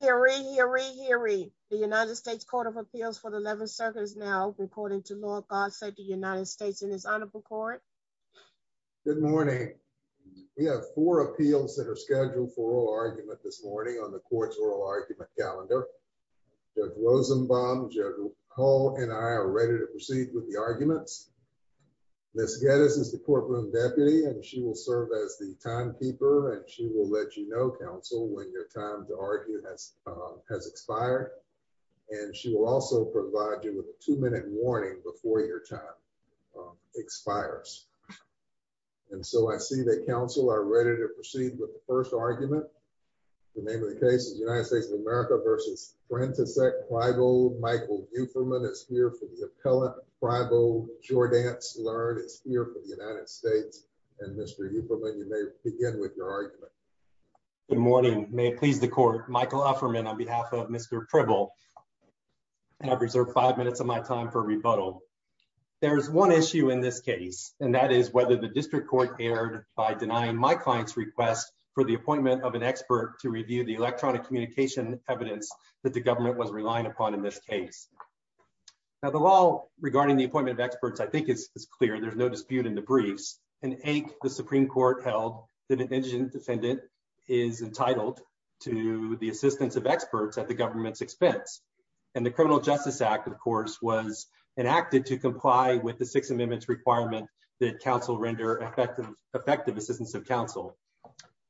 Hear, read, hear, read, hear, read. The United States Court of Appeals for the 11th Circuit is now recording to Lord God save the United States and his Honorable Court. Good morning. We have four appeals that are scheduled for oral argument this morning on the court's oral argument calendar. Judge Rosenbaum, Judge Hall, and I are ready to proceed with the arguments. Ms. Geddes is the courtroom deputy and she will serve as the counsel for the two minutes before your time to argue has expired. And she will also provide you with a two-minute warning before your time expires. And so I see that counsel are ready to proceed with the first argument. The name of the case is United States of America v. Frantisek Pribyl. Michael Ufferman is here for the appellate. Pribyl Jourdance-Learn is here for the United States. And Mr. Upperman, you may begin with your argument. Good morning. May it please the court. Michael Ufferman on behalf of Mr. Pribyl. And I've reserved five minutes of my time for rebuttal. There's one issue in this case and that is whether the district court erred by denying my client's request for the appointment of an expert to review the electronic communication evidence that the government was relying upon in this case. Now the law regarding the appointment of experts I think is clear. There's no dispute in the briefs. In eight, the Supreme Court held that an indigent defendant is entitled to the assistance of experts at the government's expense. And the Criminal Justice Act, of course, was enacted to comply with the Sixth Amendment's requirement that counsel render effective assistance of counsel.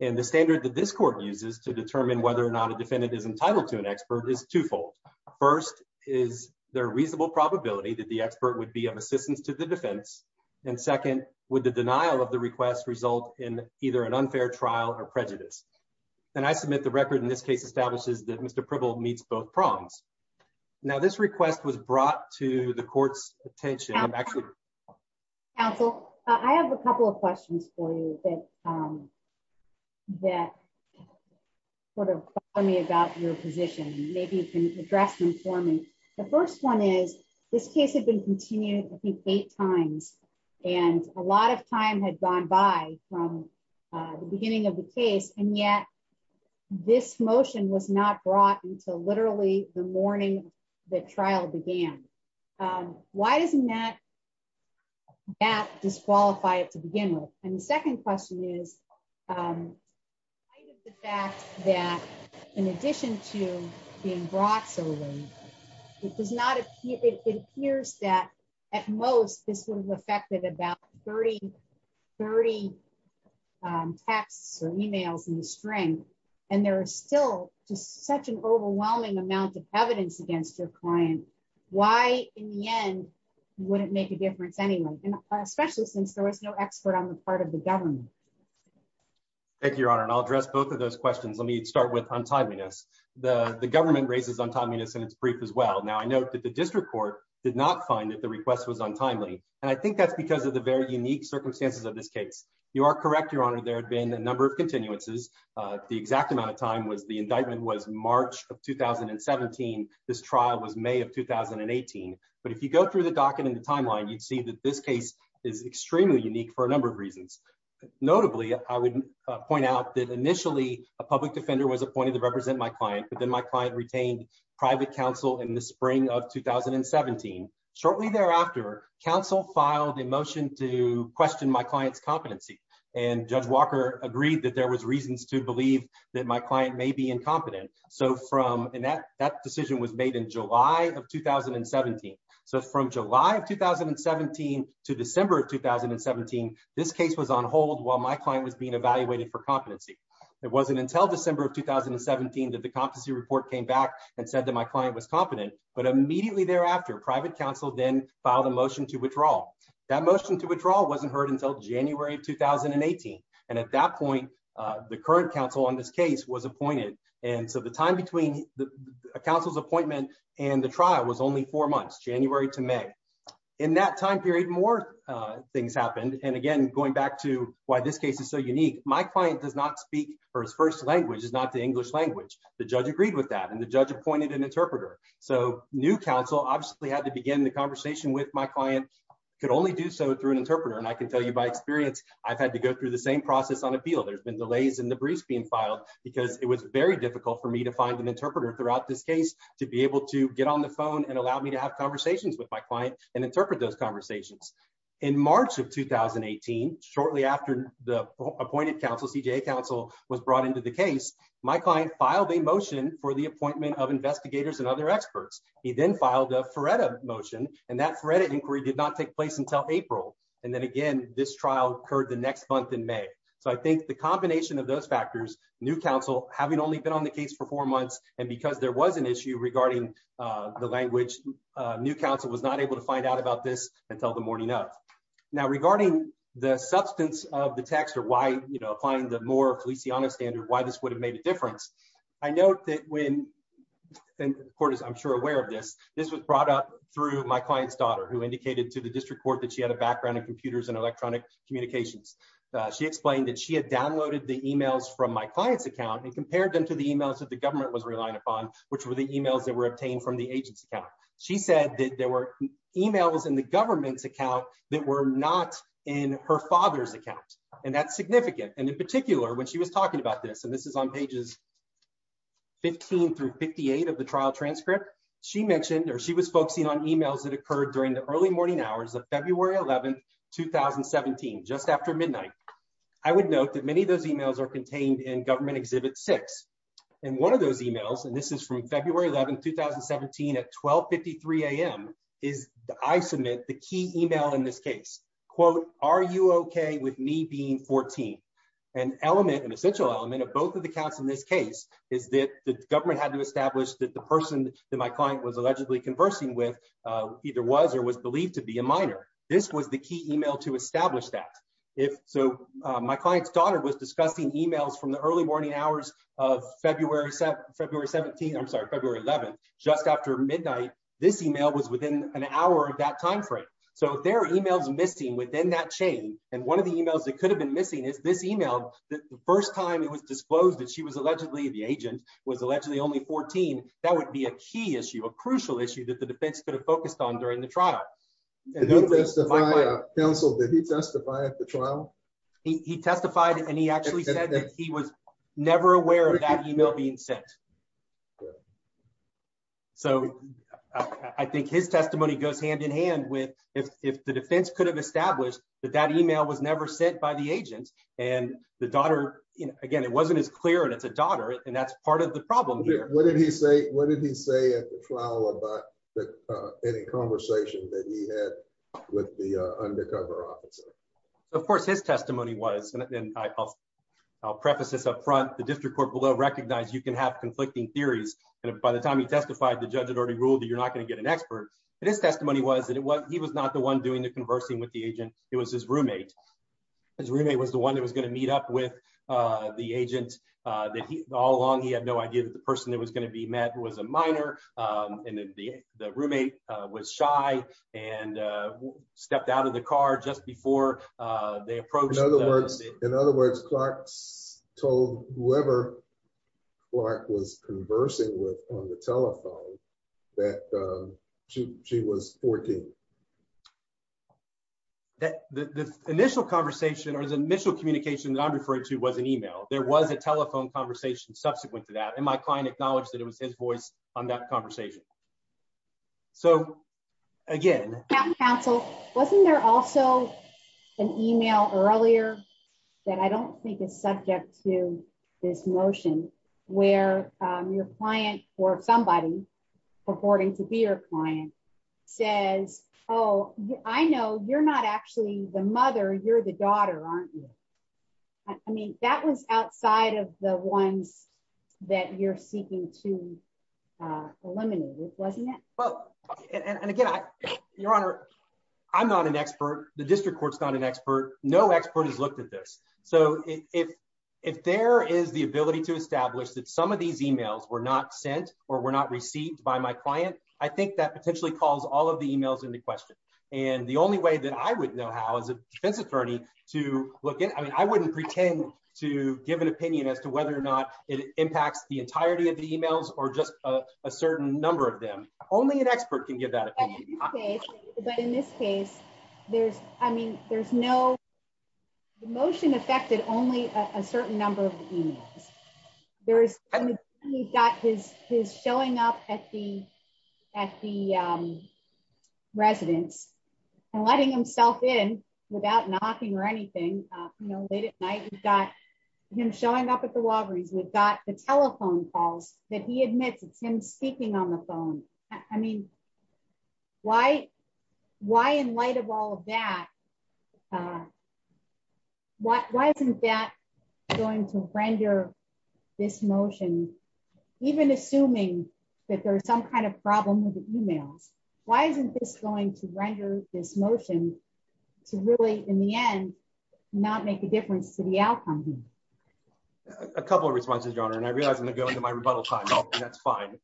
And the standard that this court uses to determine whether or not a defendant is entitled to an expert is twofold. First, is there a reasonable probability that the expert would be of assistance to the defense? And second, would the denial of the request result in either an unfair trial or prejudice? And I submit the record in this case establishes that Mr. Pribyl meets both prongs. Now this request was brought to the court's attention. Counsel, I have a couple of questions for you that sort of bother me about your position. Maybe you can address them for me. The first one is, this case had been continued I think eight times and a lot of time had gone by from the beginning of the case and yet this motion was not brought until literally the morning the trial began. Why doesn't that disqualify it to begin with? And the second question is, in light of the fact that in addition to being brought so late, it appears that at most this would have affected about 30 texts or emails in the string and there is still just such an client. Why in the end would it make a difference anyway, especially since there was no expert on the part of the government? Thank you, Your Honor, and I'll address both of those questions. Let me start with untimeliness. The government raises untimeliness in its brief as well. Now I note that the district court did not find that the request was untimely and I think that's because of the very unique circumstances of this case. You are correct, Your Honor, there had been a number of continuances. The exact amount of time was the indictment was March of 2017. This trial was May of 2018, but if you go through the docket in the timeline, you'd see that this case is extremely unique for a number of reasons. Notably, I would point out that initially a public defender was appointed to represent my client, but then my client retained private counsel in the spring of 2017. Shortly thereafter, counsel filed a motion to question my client's competency and Judge Walker agreed that there was reasons to believe that my client may be incompetent. And that decision was made in July of 2017. So from July of 2017 to December of 2017, this case was on hold while my client was being evaluated for competency. It wasn't until December of 2017 that the competency report came back and said that my client was competent, but immediately thereafter, private counsel then filed a motion to withdraw. That motion to withdraw wasn't heard until January of 2018. And at that point, the current counsel on this case was appointed. And so the time between the counsel's appointment and the trial was only four months, January to May. In that time period, more things happened. And again, going back to why this case is so unique, my client does not speak or his first language is not the English language. The judge agreed with that and the judge appointed an interpreter. So new counsel obviously had to begin the conversation with my client, could only do so through an interpreter. And I can tell you by experience, I've had to go through the same process on appeal. There's been delays in the briefs being filed because it was very difficult for me to find an interpreter throughout this case to be able to get on the phone and allow me to have conversations with my client and interpret those conversations. In March of 2018, shortly after the appointed counsel, CJA counsel was brought into the case, my client filed a motion for the appointment of investigators and other experts. He then filed a FREDA motion and that inquiry did not take place until April. And then again, this trial occurred the next month in May. So I think the combination of those factors, new counsel having only been on the case for four months and because there was an issue regarding the language, new counsel was not able to find out about this until the morning of. Now, regarding the substance of the text or why applying the more Feliciano standard, why this would have made a difference, I note that when the court is, I'm sure, aware of this, this was brought up through my client's daughter, who indicated to the district court that she had a background in computers and electronic communications. She explained that she had downloaded the emails from my client's account and compared them to the emails that the government was relying upon, which were the emails that were obtained from the agent's account. She said that there were emails in the government's account that were not in her father's account. And that's significant. And in particular, when she was 58 of the trial transcript, she mentioned, or she was focusing on emails that occurred during the early morning hours of February 11th, 2017, just after midnight. I would note that many of those emails are contained in government exhibit six. And one of those emails, and this is from February 11th, 2017 at 1253 AM is the, I submit the key email in this case, quote, are you okay with me being 14? An element, an essential element of both of the counts in this case is that the that the person that my client was allegedly conversing with either was, or was believed to be a minor. This was the key email to establish that if so my client's daughter was discussing emails from the early morning hours of February, February 17th, I'm sorry, February 11th, just after midnight, this email was within an hour of that timeframe. So there are emails missing within that chain. And one of the emails that could have been missing is this email. The first time it was that would be a key issue, a crucial issue that the defense could have focused on during the trial. Counsel, did he testify at the trial? He testified and he actually said that he was never aware of that email being sent. So I think his testimony goes hand in hand with if the defense could have established that that email was never sent by the agent and the daughter, you know, again, it wasn't as clear and it's a daughter and that's part of the What did he say at the trial about any conversation that he had with the undercover officer? Of course, his testimony was, and I'll preface this up front, the district court will recognize you can have conflicting theories. And by the time he testified, the judge had already ruled that you're not going to get an expert. But his testimony was that it was he was not the one doing the conversing with the agent. It was his roommate. His roommate was the one that was going to meet up the agent that he all along, he had no idea that the person that was going to be met was a minor. And the roommate was shy and stepped out of the car just before they approached. In other words, Clark's told whoever Clark was conversing with on the telephone, that she was 14. That the initial conversation or the initial communication that I'm referring to was an email, there was a telephone conversation subsequent to that, and my client acknowledged that it was his voice on that conversation. So, again, counsel, wasn't there also an email earlier, that I don't think is subject to this motion, where your client or somebody, according to be your client, says, oh, I know you're not actually the mother, you're the daughter, aren't you? I mean, that was outside of the ones that you're seeking to eliminate, wasn't it? Well, and again, Your Honor, I'm not an expert, the district court's not an expert, no expert has looked at this. So if, if there is the ability to establish that some of these emails were not sent, or were not received by my client, I think that potentially calls all of the emails in question. And the only way that I would know how, as a defense attorney, to look at, I mean, I wouldn't pretend to give an opinion as to whether or not it impacts the entirety of the emails, or just a certain number of them. Only an expert can give that opinion. But in this case, there's, I mean, there's no, the motion affected only a certain number of emails. There's got his his showing up at the at the residence, and letting himself in without knocking or anything. You know, late at night, we've got him showing up at the Walgreens, we've got the telephone calls that he admits it's him speaking on the phone. I mean, why? Why in light of all of that? Why isn't that going to render this motion, even assuming that there's some kind of problem with the emails? Why isn't this going to render this motion to really in the end, not make a difference to the outcome? A couple of responses, Your Honor, and I realize I'm going to go into my rebuttal That's fine.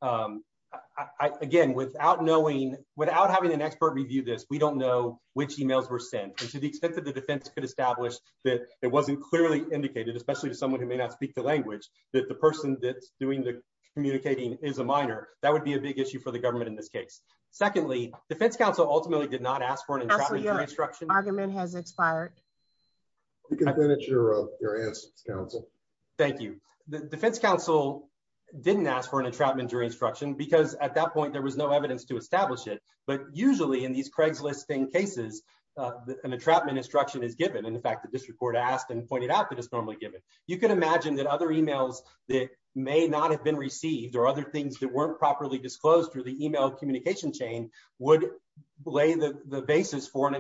Again, without knowing, without having an expert review this, we don't know which emails were sent to the extent that the defense could establish that it wasn't clearly indicated, especially to someone who may not speak the language that the person that's doing the communicating is a minor, that would be a big issue for the government in this case. Secondly, Defense Council ultimately did not ask for an instruction argument has expired. You can finish your answer, Counsel. Thank you. The Defense Council didn't ask for an entrapment jury instruction, because at that point, there was no evidence to establish it. But usually in these Craigslisting cases, an entrapment instruction is given. In fact, the district court asked and pointed out that it's normally given. You can imagine that other emails that may not have been received or other things that weren't properly disclosed through the email communication chain would lay the basis for an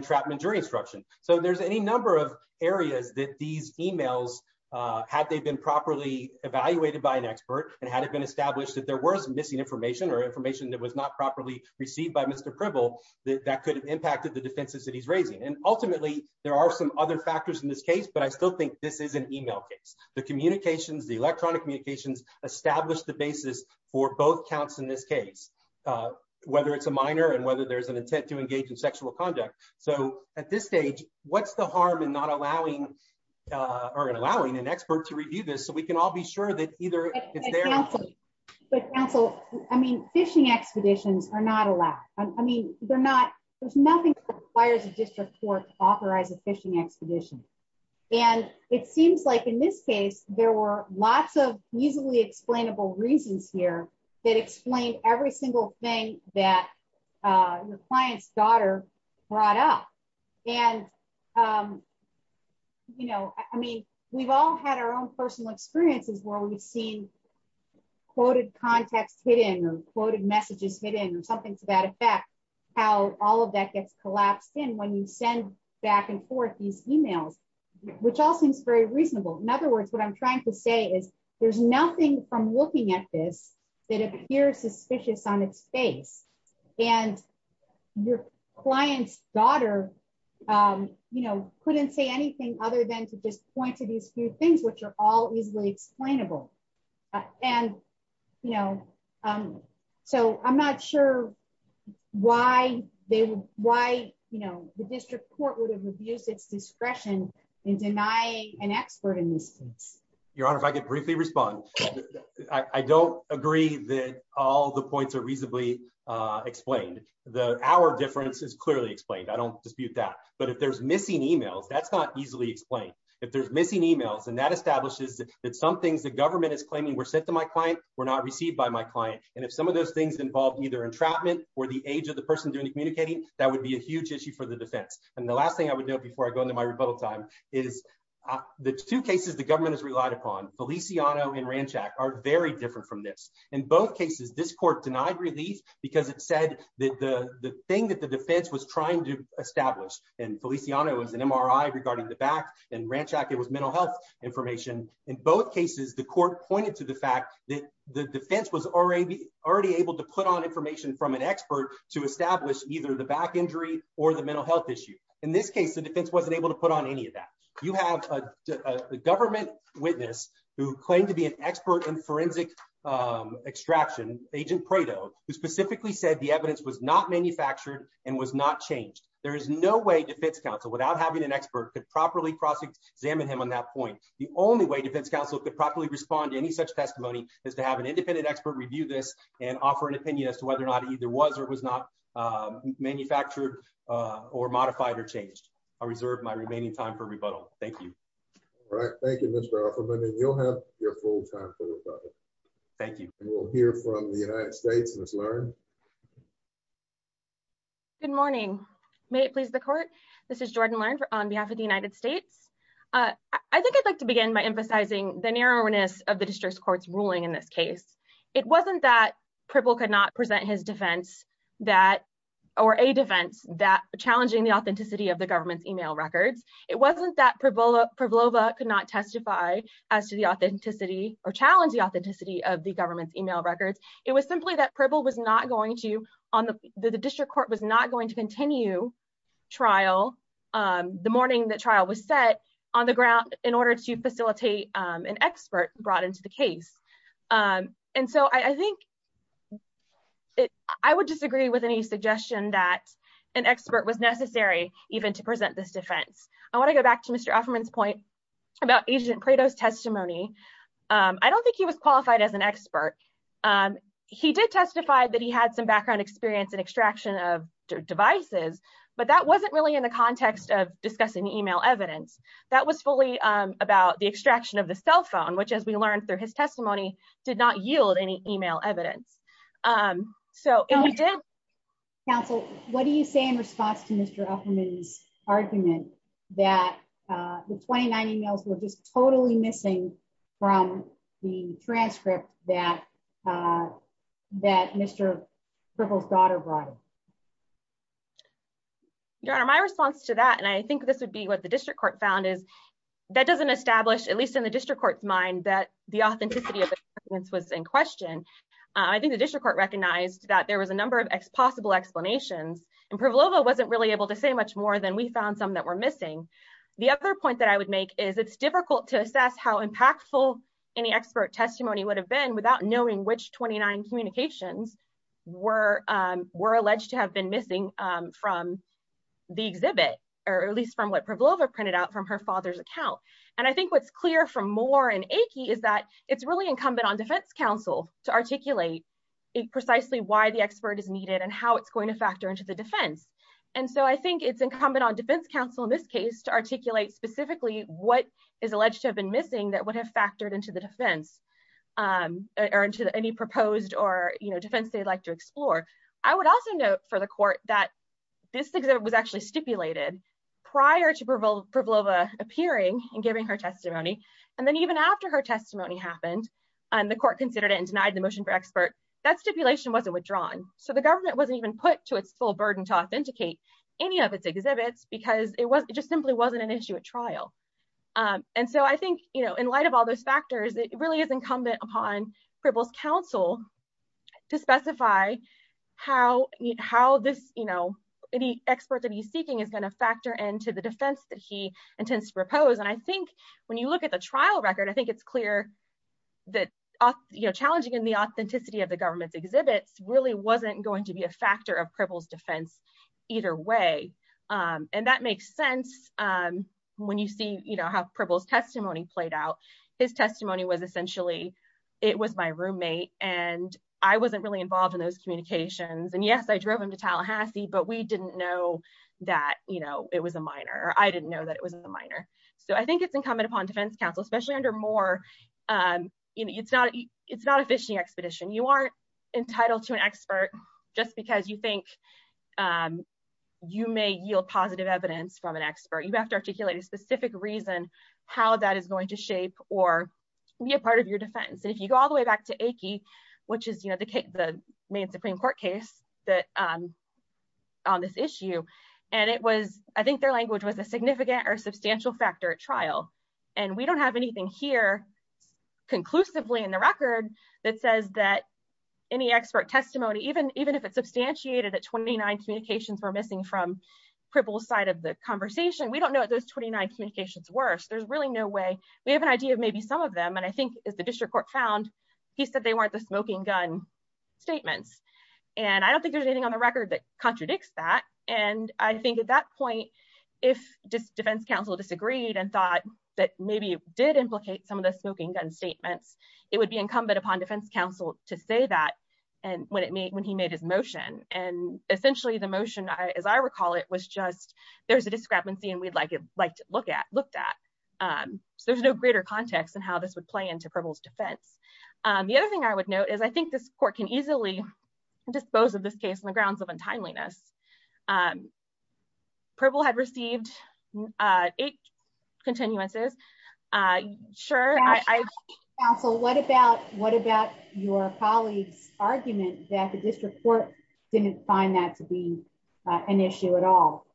areas that these emails, had they been properly evaluated by an expert, and had it been established that there was missing information or information that was not properly received by Mr. Pribble, that could have impacted the defenses that he's raising. And ultimately, there are some other factors in this case, but I still think this is an email case. The communications, the electronic communications established the basis for both counts in this case, whether it's a minor and whether there's an intent to engage in sexual conduct. So at this stage, what's the harm in not allowing, or in allowing an expert to review this, so we can all be sure that either it's there. But counsel, I mean, fishing expeditions are not allowed. I mean, they're not, there's nothing that requires a district court to authorize a fishing expedition. And it seems like in this case, there were lots of easily explainable reasons here that explain every single thing that the client's daughter brought up. And, you know, I mean, we've all had our own personal experiences where we've seen quoted context hidden or quoted messages hidden or something to that effect, how all of that gets collapsed in when you send back and forth these emails, which all seems very reasonable. In other words, there's nothing from looking at this that appears suspicious on its face and your client's daughter, you know, couldn't say anything other than to just point to these few things, which are all easily explainable. And, you know, so I'm not sure why they, why, you know, the district court would have abused its discretion in denying an expert in this case. Your Honor, if I could briefly respond, I don't agree that all the points are reasonably explained. The, our difference is clearly explained. I don't dispute that, but if there's missing emails, that's not easily explained. If there's missing emails and that establishes that some things the government is claiming were sent to my client, were not received by my client. And if some of those things involve either entrapment or the age of the person doing the communicating, that would be a huge issue for the defense. And the last thing I would know before I Feliciano and Ranchak are very different from this. In both cases, this court denied relief because it said that the thing that the defense was trying to establish and Feliciano was an MRI regarding the back and Ranchak, it was mental health information. In both cases, the court pointed to the fact that the defense was already, already able to put on information from an expert to establish either the back injury or the mental health issue. In this case, the defense wasn't able to put on any of that. You have a government witness who claimed to be an expert in forensic extraction, agent Prado, who specifically said the evidence was not manufactured and was not changed. There is no way defense counsel without having an expert could properly process examine him on that point. The only way defense counsel could properly respond to any such testimony is to have an independent expert review this and offer an opinion as to whether or not either was not manufactured or modified or changed. I reserve my remaining time for rebuttal. Thank you. All right. Thank you, Mr. Offerman. And you'll have your full time for rebuttal. Thank you. We'll hear from the United States, Ms. Lern. Good morning. May it please the court. This is Jordan Lern on behalf of the United States. I think I'd like to begin by emphasizing the narrowness of the district court's ruling in this case. It wasn't that Pribble could not present his defense that or a defense that challenging the authenticity of the government's email records. It wasn't that Pribble could not testify as to the authenticity or challenge the authenticity of the government's email records. It was simply that Pribble was not going to on the district court was not going to continue trial. The morning the trial was set on the ground in order to facilitate an expert brought to the case. And so I think I would disagree with any suggestion that an expert was necessary even to present this defense. I want to go back to Mr. Offerman's point about Agent Prado's testimony. I don't think he was qualified as an expert. He did testify that he had some background experience in extraction of devices, but that wasn't really in the context of discussing email evidence. That was fully about the extraction of the cell phone, which as we learned through his testimony did not yield any email evidence. So we did. Counsel, what do you say in response to Mr. Offerman's argument that the 29 emails were just totally missing from the transcript that Mr. Pribble's daughter brought in? Your Honor, my response to that, and I think this would be what the district court found, is that doesn't establish, at least in the district court's mind, that the authenticity of the evidence was in question. I think the district court recognized that there was a number of possible explanations and Pribble wasn't really able to say much more than we found some that were missing. The other point that I would make is it's difficult to assess how impactful any expert testimony would have been without knowing which 29 communications were alleged to have been missing from the exhibit, or at least from what Pribble printed out from her father's account. And I think what's clear from Moore and Akey is that it's really incumbent on defense counsel to articulate precisely why the expert is needed and how it's going to factor into the defense. And so I think it's incumbent on defense counsel in this case to articulate specifically what is alleged to have been missing that would have factored into the defense or into any proposed or, you know, defense they'd like to explore. I would also note for the court that this exhibit was actually stipulated prior to Pribbleva appearing and giving her testimony, and then even after her testimony happened and the court considered it and denied the motion for expert, that stipulation wasn't withdrawn. So the government wasn't even put to its full burden to authenticate any of its exhibits because it just simply wasn't an issue at trial. And so I think, you know, in light of all those factors, it really is incumbent upon Pribble's counsel to specify how this, you know, any expert that he's seeking is going to factor into the defense that he intends to propose. And I think when you look at the trial record, I think it's clear that, you know, challenging the authenticity of the government's exhibits really wasn't going to be a factor of Pribble's defense either way. And that makes sense when you see, you know, how Pribble's testimony played out. His testimony was essentially, it was my roommate and I wasn't really involved in those communications. And yes, I drove him to Tallahassee, but we didn't know that, you know, it was a minor or I didn't know that it was a minor. So I think it's incumbent upon defense counsel, especially under Moore, you know, it's not, it's not a fishing expedition. You aren't entitled to an expert just because you think you may yield positive evidence from an expert. You have to articulate a specific reason how that is going to shape or be a part of your defense. And if you go all the way back to Aikie, which is, you know, the main Supreme Court case that, on this issue, and it was, I think their language was a significant or substantial factor at trial. And we don't have anything here conclusively in the record that says that any expert testimony, even if it's substantiated that 29 communications were missing from cripple side of the conversation, we don't know what those 29 communications were. So there's really no way we have an idea of maybe some of them. And I think as the district court found, he said they weren't the smoking gun statements. And I don't think there's anything on the record that contradicts that. And I think at that point, if defense counsel disagreed and thought that maybe it did implicate some of the smoking gun statements, it would be incumbent upon defense counsel to say that. And when it made, when he made his motion and essentially, the motion, as I recall, it was just, there's a discrepancy, and we'd like it like to look at looked at. So there's no greater context and how this would play into pebbles defense. The other thing I would note is I think this court can easily dispose of this case on the grounds of untimeliness. purple had received eight continuances. Sure, I also what about what about your colleagues argument that the district court didn't find that to be an issue at all?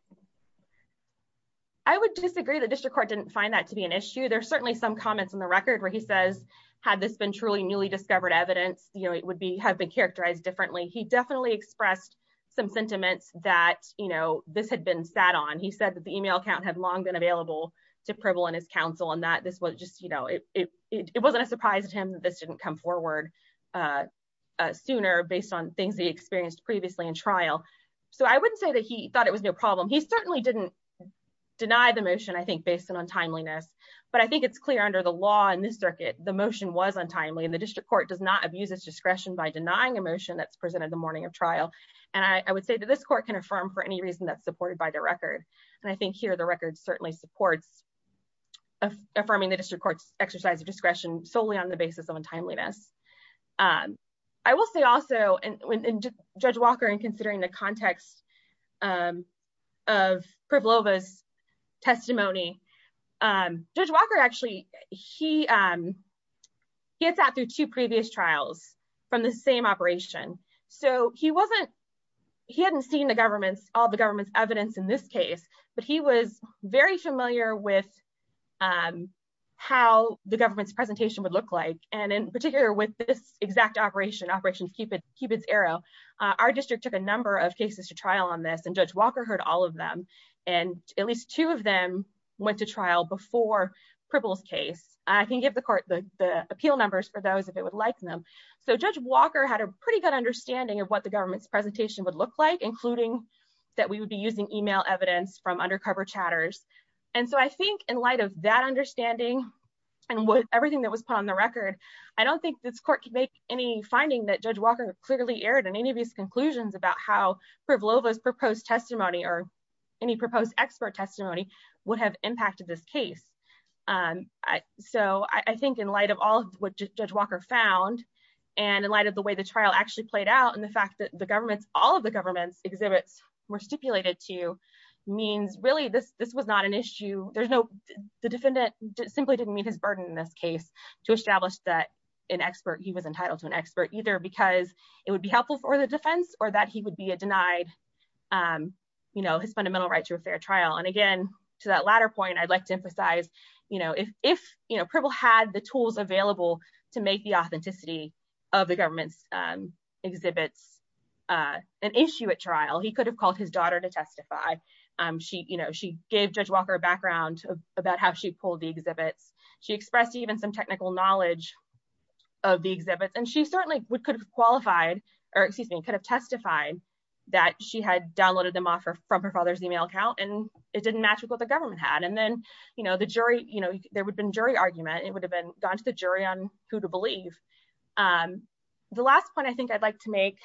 I would disagree the district court didn't find that to be an issue. There's certainly some comments on the record where he says, had this been truly newly discovered evidence, you know, it would be have been characterized differently. He definitely expressed some sentiments that, you know, this had been sat on, he said that the email account had long been available to purple and his counsel and that this was just, you know, it wasn't a surprise to him that this didn't come forward sooner based on things he experienced previously in trial. So I wouldn't say that he thought it was no problem. He certainly didn't deny the motion, I think, based on untimeliness. But I think it's clear under the law in this circuit, the motion was untimely and the district court does not abuse its discretion by denying emotion that's presented the morning of trial. And I would say that this court can affirm for any reason that's supported by the record. And I think here the record certainly supports affirming the district court's exercise of discretion solely on the basis of untimeliness. I will say also, and Judge Walker, in considering the context of Prevlova's testimony, Judge Walker actually, gets out through two previous trials from the same operation. So he wasn't, he hadn't seen the government's, all the government's evidence in this case, but he was very familiar with how the government's presentation would look like. And in particular with this exact operation, Operation Cupid's Arrow, our district took a number of cases to trial on this and Judge Walker heard all of them. And at least two of them went to trial before Prevlova's case. I can give the court the appeal numbers for those if it would like them. So Judge Walker had a pretty good understanding of what the government's presentation would look like, including that we would be using email evidence from undercover chatters. And so I think in light of that understanding and everything that was put on the record, I don't think this court could make any finding that Judge Walker clearly aired in any of his conclusions about how Prevlova's proposed testimony or any proposed expert testimony would have impacted this case. So I think in light of all of what Judge Walker found and in light of the way the trial actually played out and the fact that all of the government's exhibits were stipulated to means really this was not an issue. The defendant simply didn't meet his burden in this case to establish that he was entitled to an expert, either because it would be helpful for the defense or that he would be denied his fundamental right to a fair trial. And again, to that latter point, I'd like to emphasize if Prevlova had the tools available to make the authenticity of the government's exhibits an issue at trial, he could have called his daughter to testify. She gave Judge Walker a background about how she pulled the exhibits. She expressed even some technical knowledge of the exhibits. And she certainly could have qualified, or excuse me, could have testified that she had downloaded them off from her father's email account and it didn't match with what the government had. And then the jury, there would have been jury on who to believe. The last point I think I'd like to make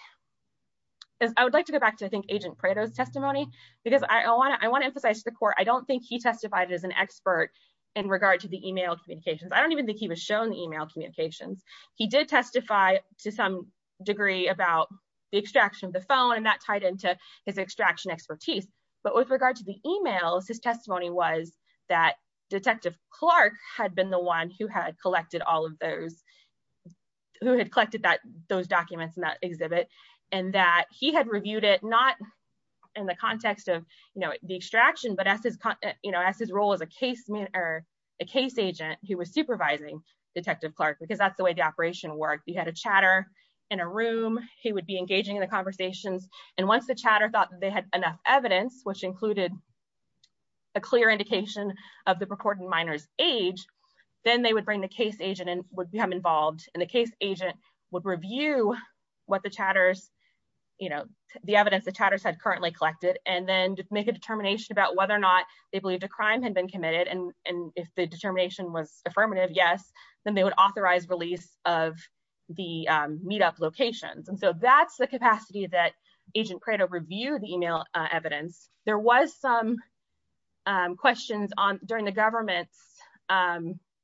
is I would like to go back to, I think, Agent Prato's testimony, because I want to emphasize to the court, I don't think he testified as an expert in regard to the email communications. I don't even think he was shown the email communications. He did testify to some degree about the extraction of the phone and that tied into his extraction expertise. But with regard to the emails, his testimony was that Detective Clark had been the one who had collected all of those, who had collected that those documents in that exhibit, and that he had reviewed it not in the context of, you know, the extraction, but as his, you know, as his role as a case agent who was supervising Detective Clark, because that's the way the operation worked. He had a chatter in a room, he would be engaging in the conversations, and once the chatter thought they had enough evidence, which included a clear indication of the purported minor's age, then they would bring the case agent in, would become involved, and the case agent would review what the chatters, you know, the evidence the chatters had currently collected, and then make a determination about whether or not they believed a crime had been committed, and if the determination was affirmative, yes, then they would authorize release of the meetup locations. And so that's the capacity that Agent Prato reviewed the email evidence. There was some questions on, during the government's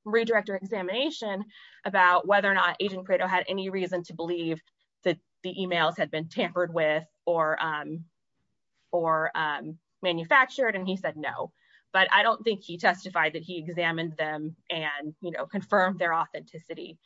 redirector examination, about whether or not Agent Prato had any reason to believe that the emails had been tampered with, or manufactured, and he said no. But I don't think he testified that he examined them, and, you know, confirmed their authenticity.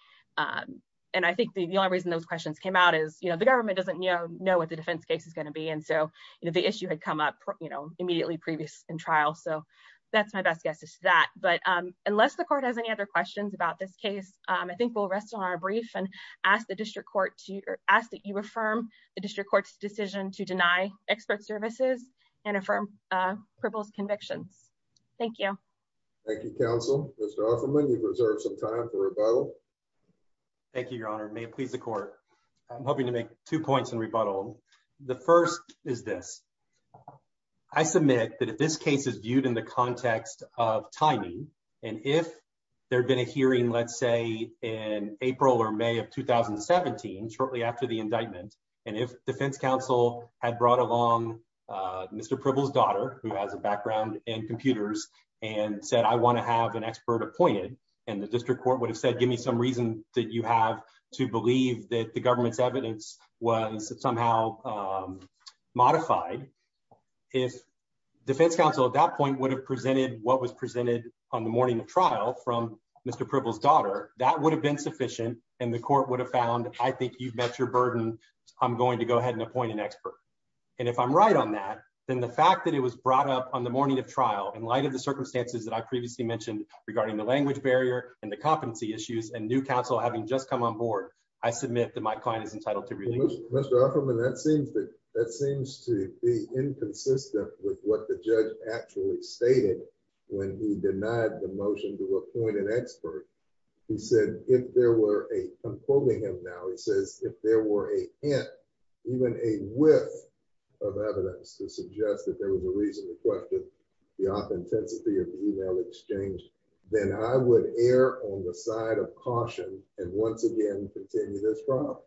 And I think the only reason those questions came out is, you know, the government doesn't know what the defense case is going to be, and so, you know, the issue had come up, you know, immediately previous in trial. So that's my best guess is that. But unless the court has any other questions about this case, I think we'll rest on our brief and ask the district court to ask that you affirm the district court's decision to deny expert services and affirm Pribble's convictions. Thank you. Thank you, counsel. Mr. Offerman, you've reserved some time for rebuttal. Thank you, Your Honor. May it please the court. I'm hoping to make two points in rebuttal. The first is this. I submit that if this case is viewed in the context of timing, and if there had been a hearing, let's say, in April or May of 2017, shortly after the indictment, and if defense counsel had brought along Mr. Pribble's daughter, who has a background in computers, and said, I want to have an expert appointed, and the district court would have said, give me some reason that you have to believe that the government's evidence was somehow modified. If defense counsel at that point would have presented what was presented on the morning of trial from Mr. Pribble's daughter, that would have been sufficient, and the court would have found, I think you've met your burden. I'm going to go ahead and appoint an expert. And if I'm right on that, then the fact that it was brought up on the morning of trial, in light of the circumstances that I previously mentioned regarding the language barrier and the competency issues, and new counsel having just come on board, I submit that my client is entitled to release. Mr. Offerman, that seems to be inconsistent with what the judge actually stated when he denied the motion to appoint an expert. He said, if there were a, I'm quoting him now, he says, if there were a hint, even a whiff of evidence to suggest that there was a reason to question the authenticity of the email exchange, then I would err on the side of caution and once again continue this trial.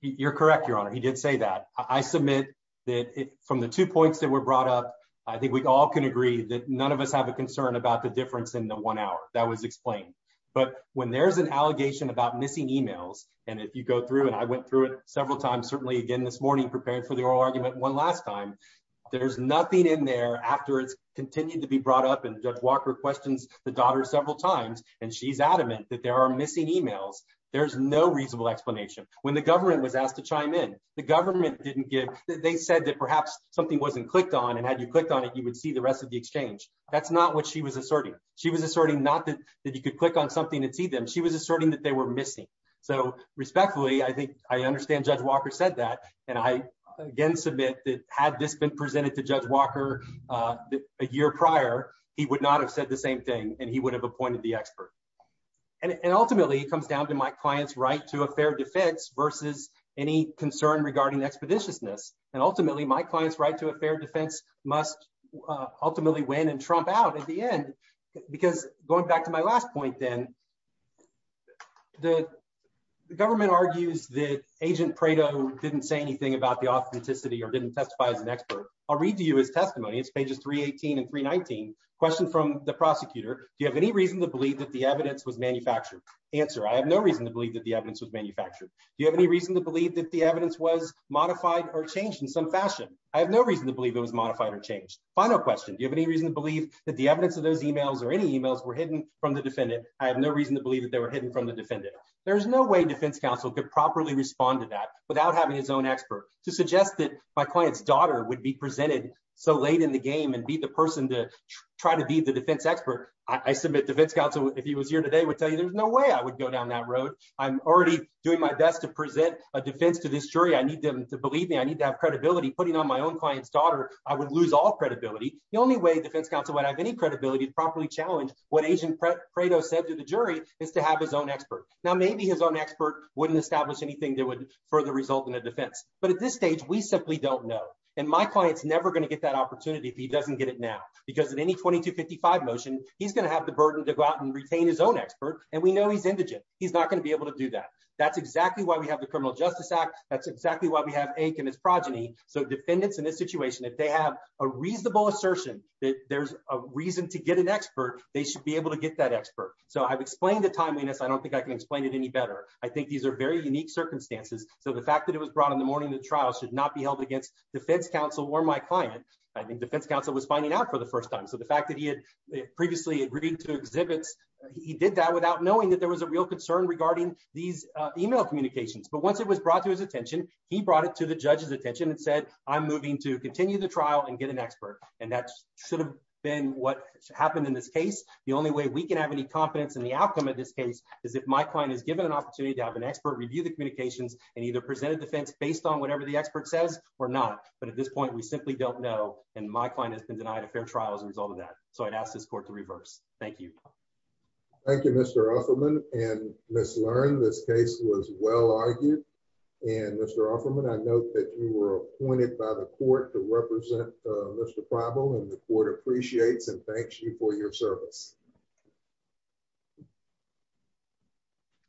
You're correct, your honor. He did say that. I submit that from the two points that were brought up, I think we all can agree that none of us have a concern about the difference in the one hour. That was explained. But when there's an allegation about missing emails, and if you go through, and I went through it several times, certainly again this morning, prepared for the oral argument one last time, there's nothing in there after it's continued to be brought up, and Judge Walker questions the daughter several times, and she's adamant that there are missing emails. There's no reasonable explanation. When the government was asked to chime in, the government didn't give, they said that perhaps something wasn't clicked on, and had you clicked on it, you would see the rest of the exchange. That's not what she was asserting. She was asserting not that you could click on something and see them, she was asserting that they were missing. So respectfully, I think, Judge Walker said that, and I again submit that had this been presented to Judge Walker a year prior, he would not have said the same thing, and he would have appointed the expert. And ultimately, it comes down to my client's right to a fair defense versus any concern regarding expeditiousness. And ultimately, my client's right to a fair defense must ultimately win and trump out at the end. Because going back to my last point then, the government argues that Agent Prado didn't say anything about the authenticity or didn't testify as an expert. I'll read to you his testimony. It's pages 318 and 319. Question from the prosecutor, do you have any reason to believe that the evidence was manufactured? Answer, I have no reason to believe that the evidence was manufactured. Do you have any reason to believe that the evidence was modified or changed in some fashion? I have no reason to believe it was modified or changed. Final question, do you have any reason to believe that the evidence of those emails or any emails were hidden from the defendant? I have no reason to believe that they were hidden from the defendant. There's no way defense counsel could properly respond to that without having his own expert. To suggest that my client's daughter would be presented so late in the game and be the person to try to be the defense expert, I submit defense counsel, if he was here today, would tell you there's no way I would go down that road. I'm already doing my best to present a defense to this jury. I need them to believe me. I need to have credibility. Putting on my own client's credibility, the only way defense counsel would have any credibility to properly challenge what Agent Prado said to the jury is to have his own expert. Now, maybe his own expert wouldn't establish anything that would further result in a defense. But at this stage, we simply don't know. And my client's never going to get that opportunity if he doesn't get it now. Because in any 2255 motion, he's going to have the burden to go out and retain his own expert. And we know he's indigent. He's not going to be able to do that. That's exactly why we have the Criminal Justice Act. That's exactly why we have Aik and his progeny. So defendants in this assertion that there's a reason to get an expert, they should be able to get that expert. So I've explained the timeliness. I don't think I can explain it any better. I think these are very unique circumstances. So the fact that it was brought in the morning of the trial should not be held against defense counsel or my client. I think defense counsel was finding out for the first time. So the fact that he had previously agreed to exhibits, he did that without knowing that there was a real concern regarding these email communications. But once it was brought to his attention, he brought it to the judge's attention and said, I'm moving to continue the and that should have been what happened in this case. The only way we can have any confidence in the outcome of this case is if my client is given an opportunity to have an expert review the communications and either presented defense based on whatever the expert says or not. But at this point, we simply don't know. And my client has been denied a fair trial as a result of that. So I'd ask this court to reverse. Thank you. Thank you, Mr. Offerman and Ms. Lerne. This case was well argued. And Mr. Offerman, I know that you were appointed by the court to represent Mr. Prible and the court appreciates and thanks you for your service.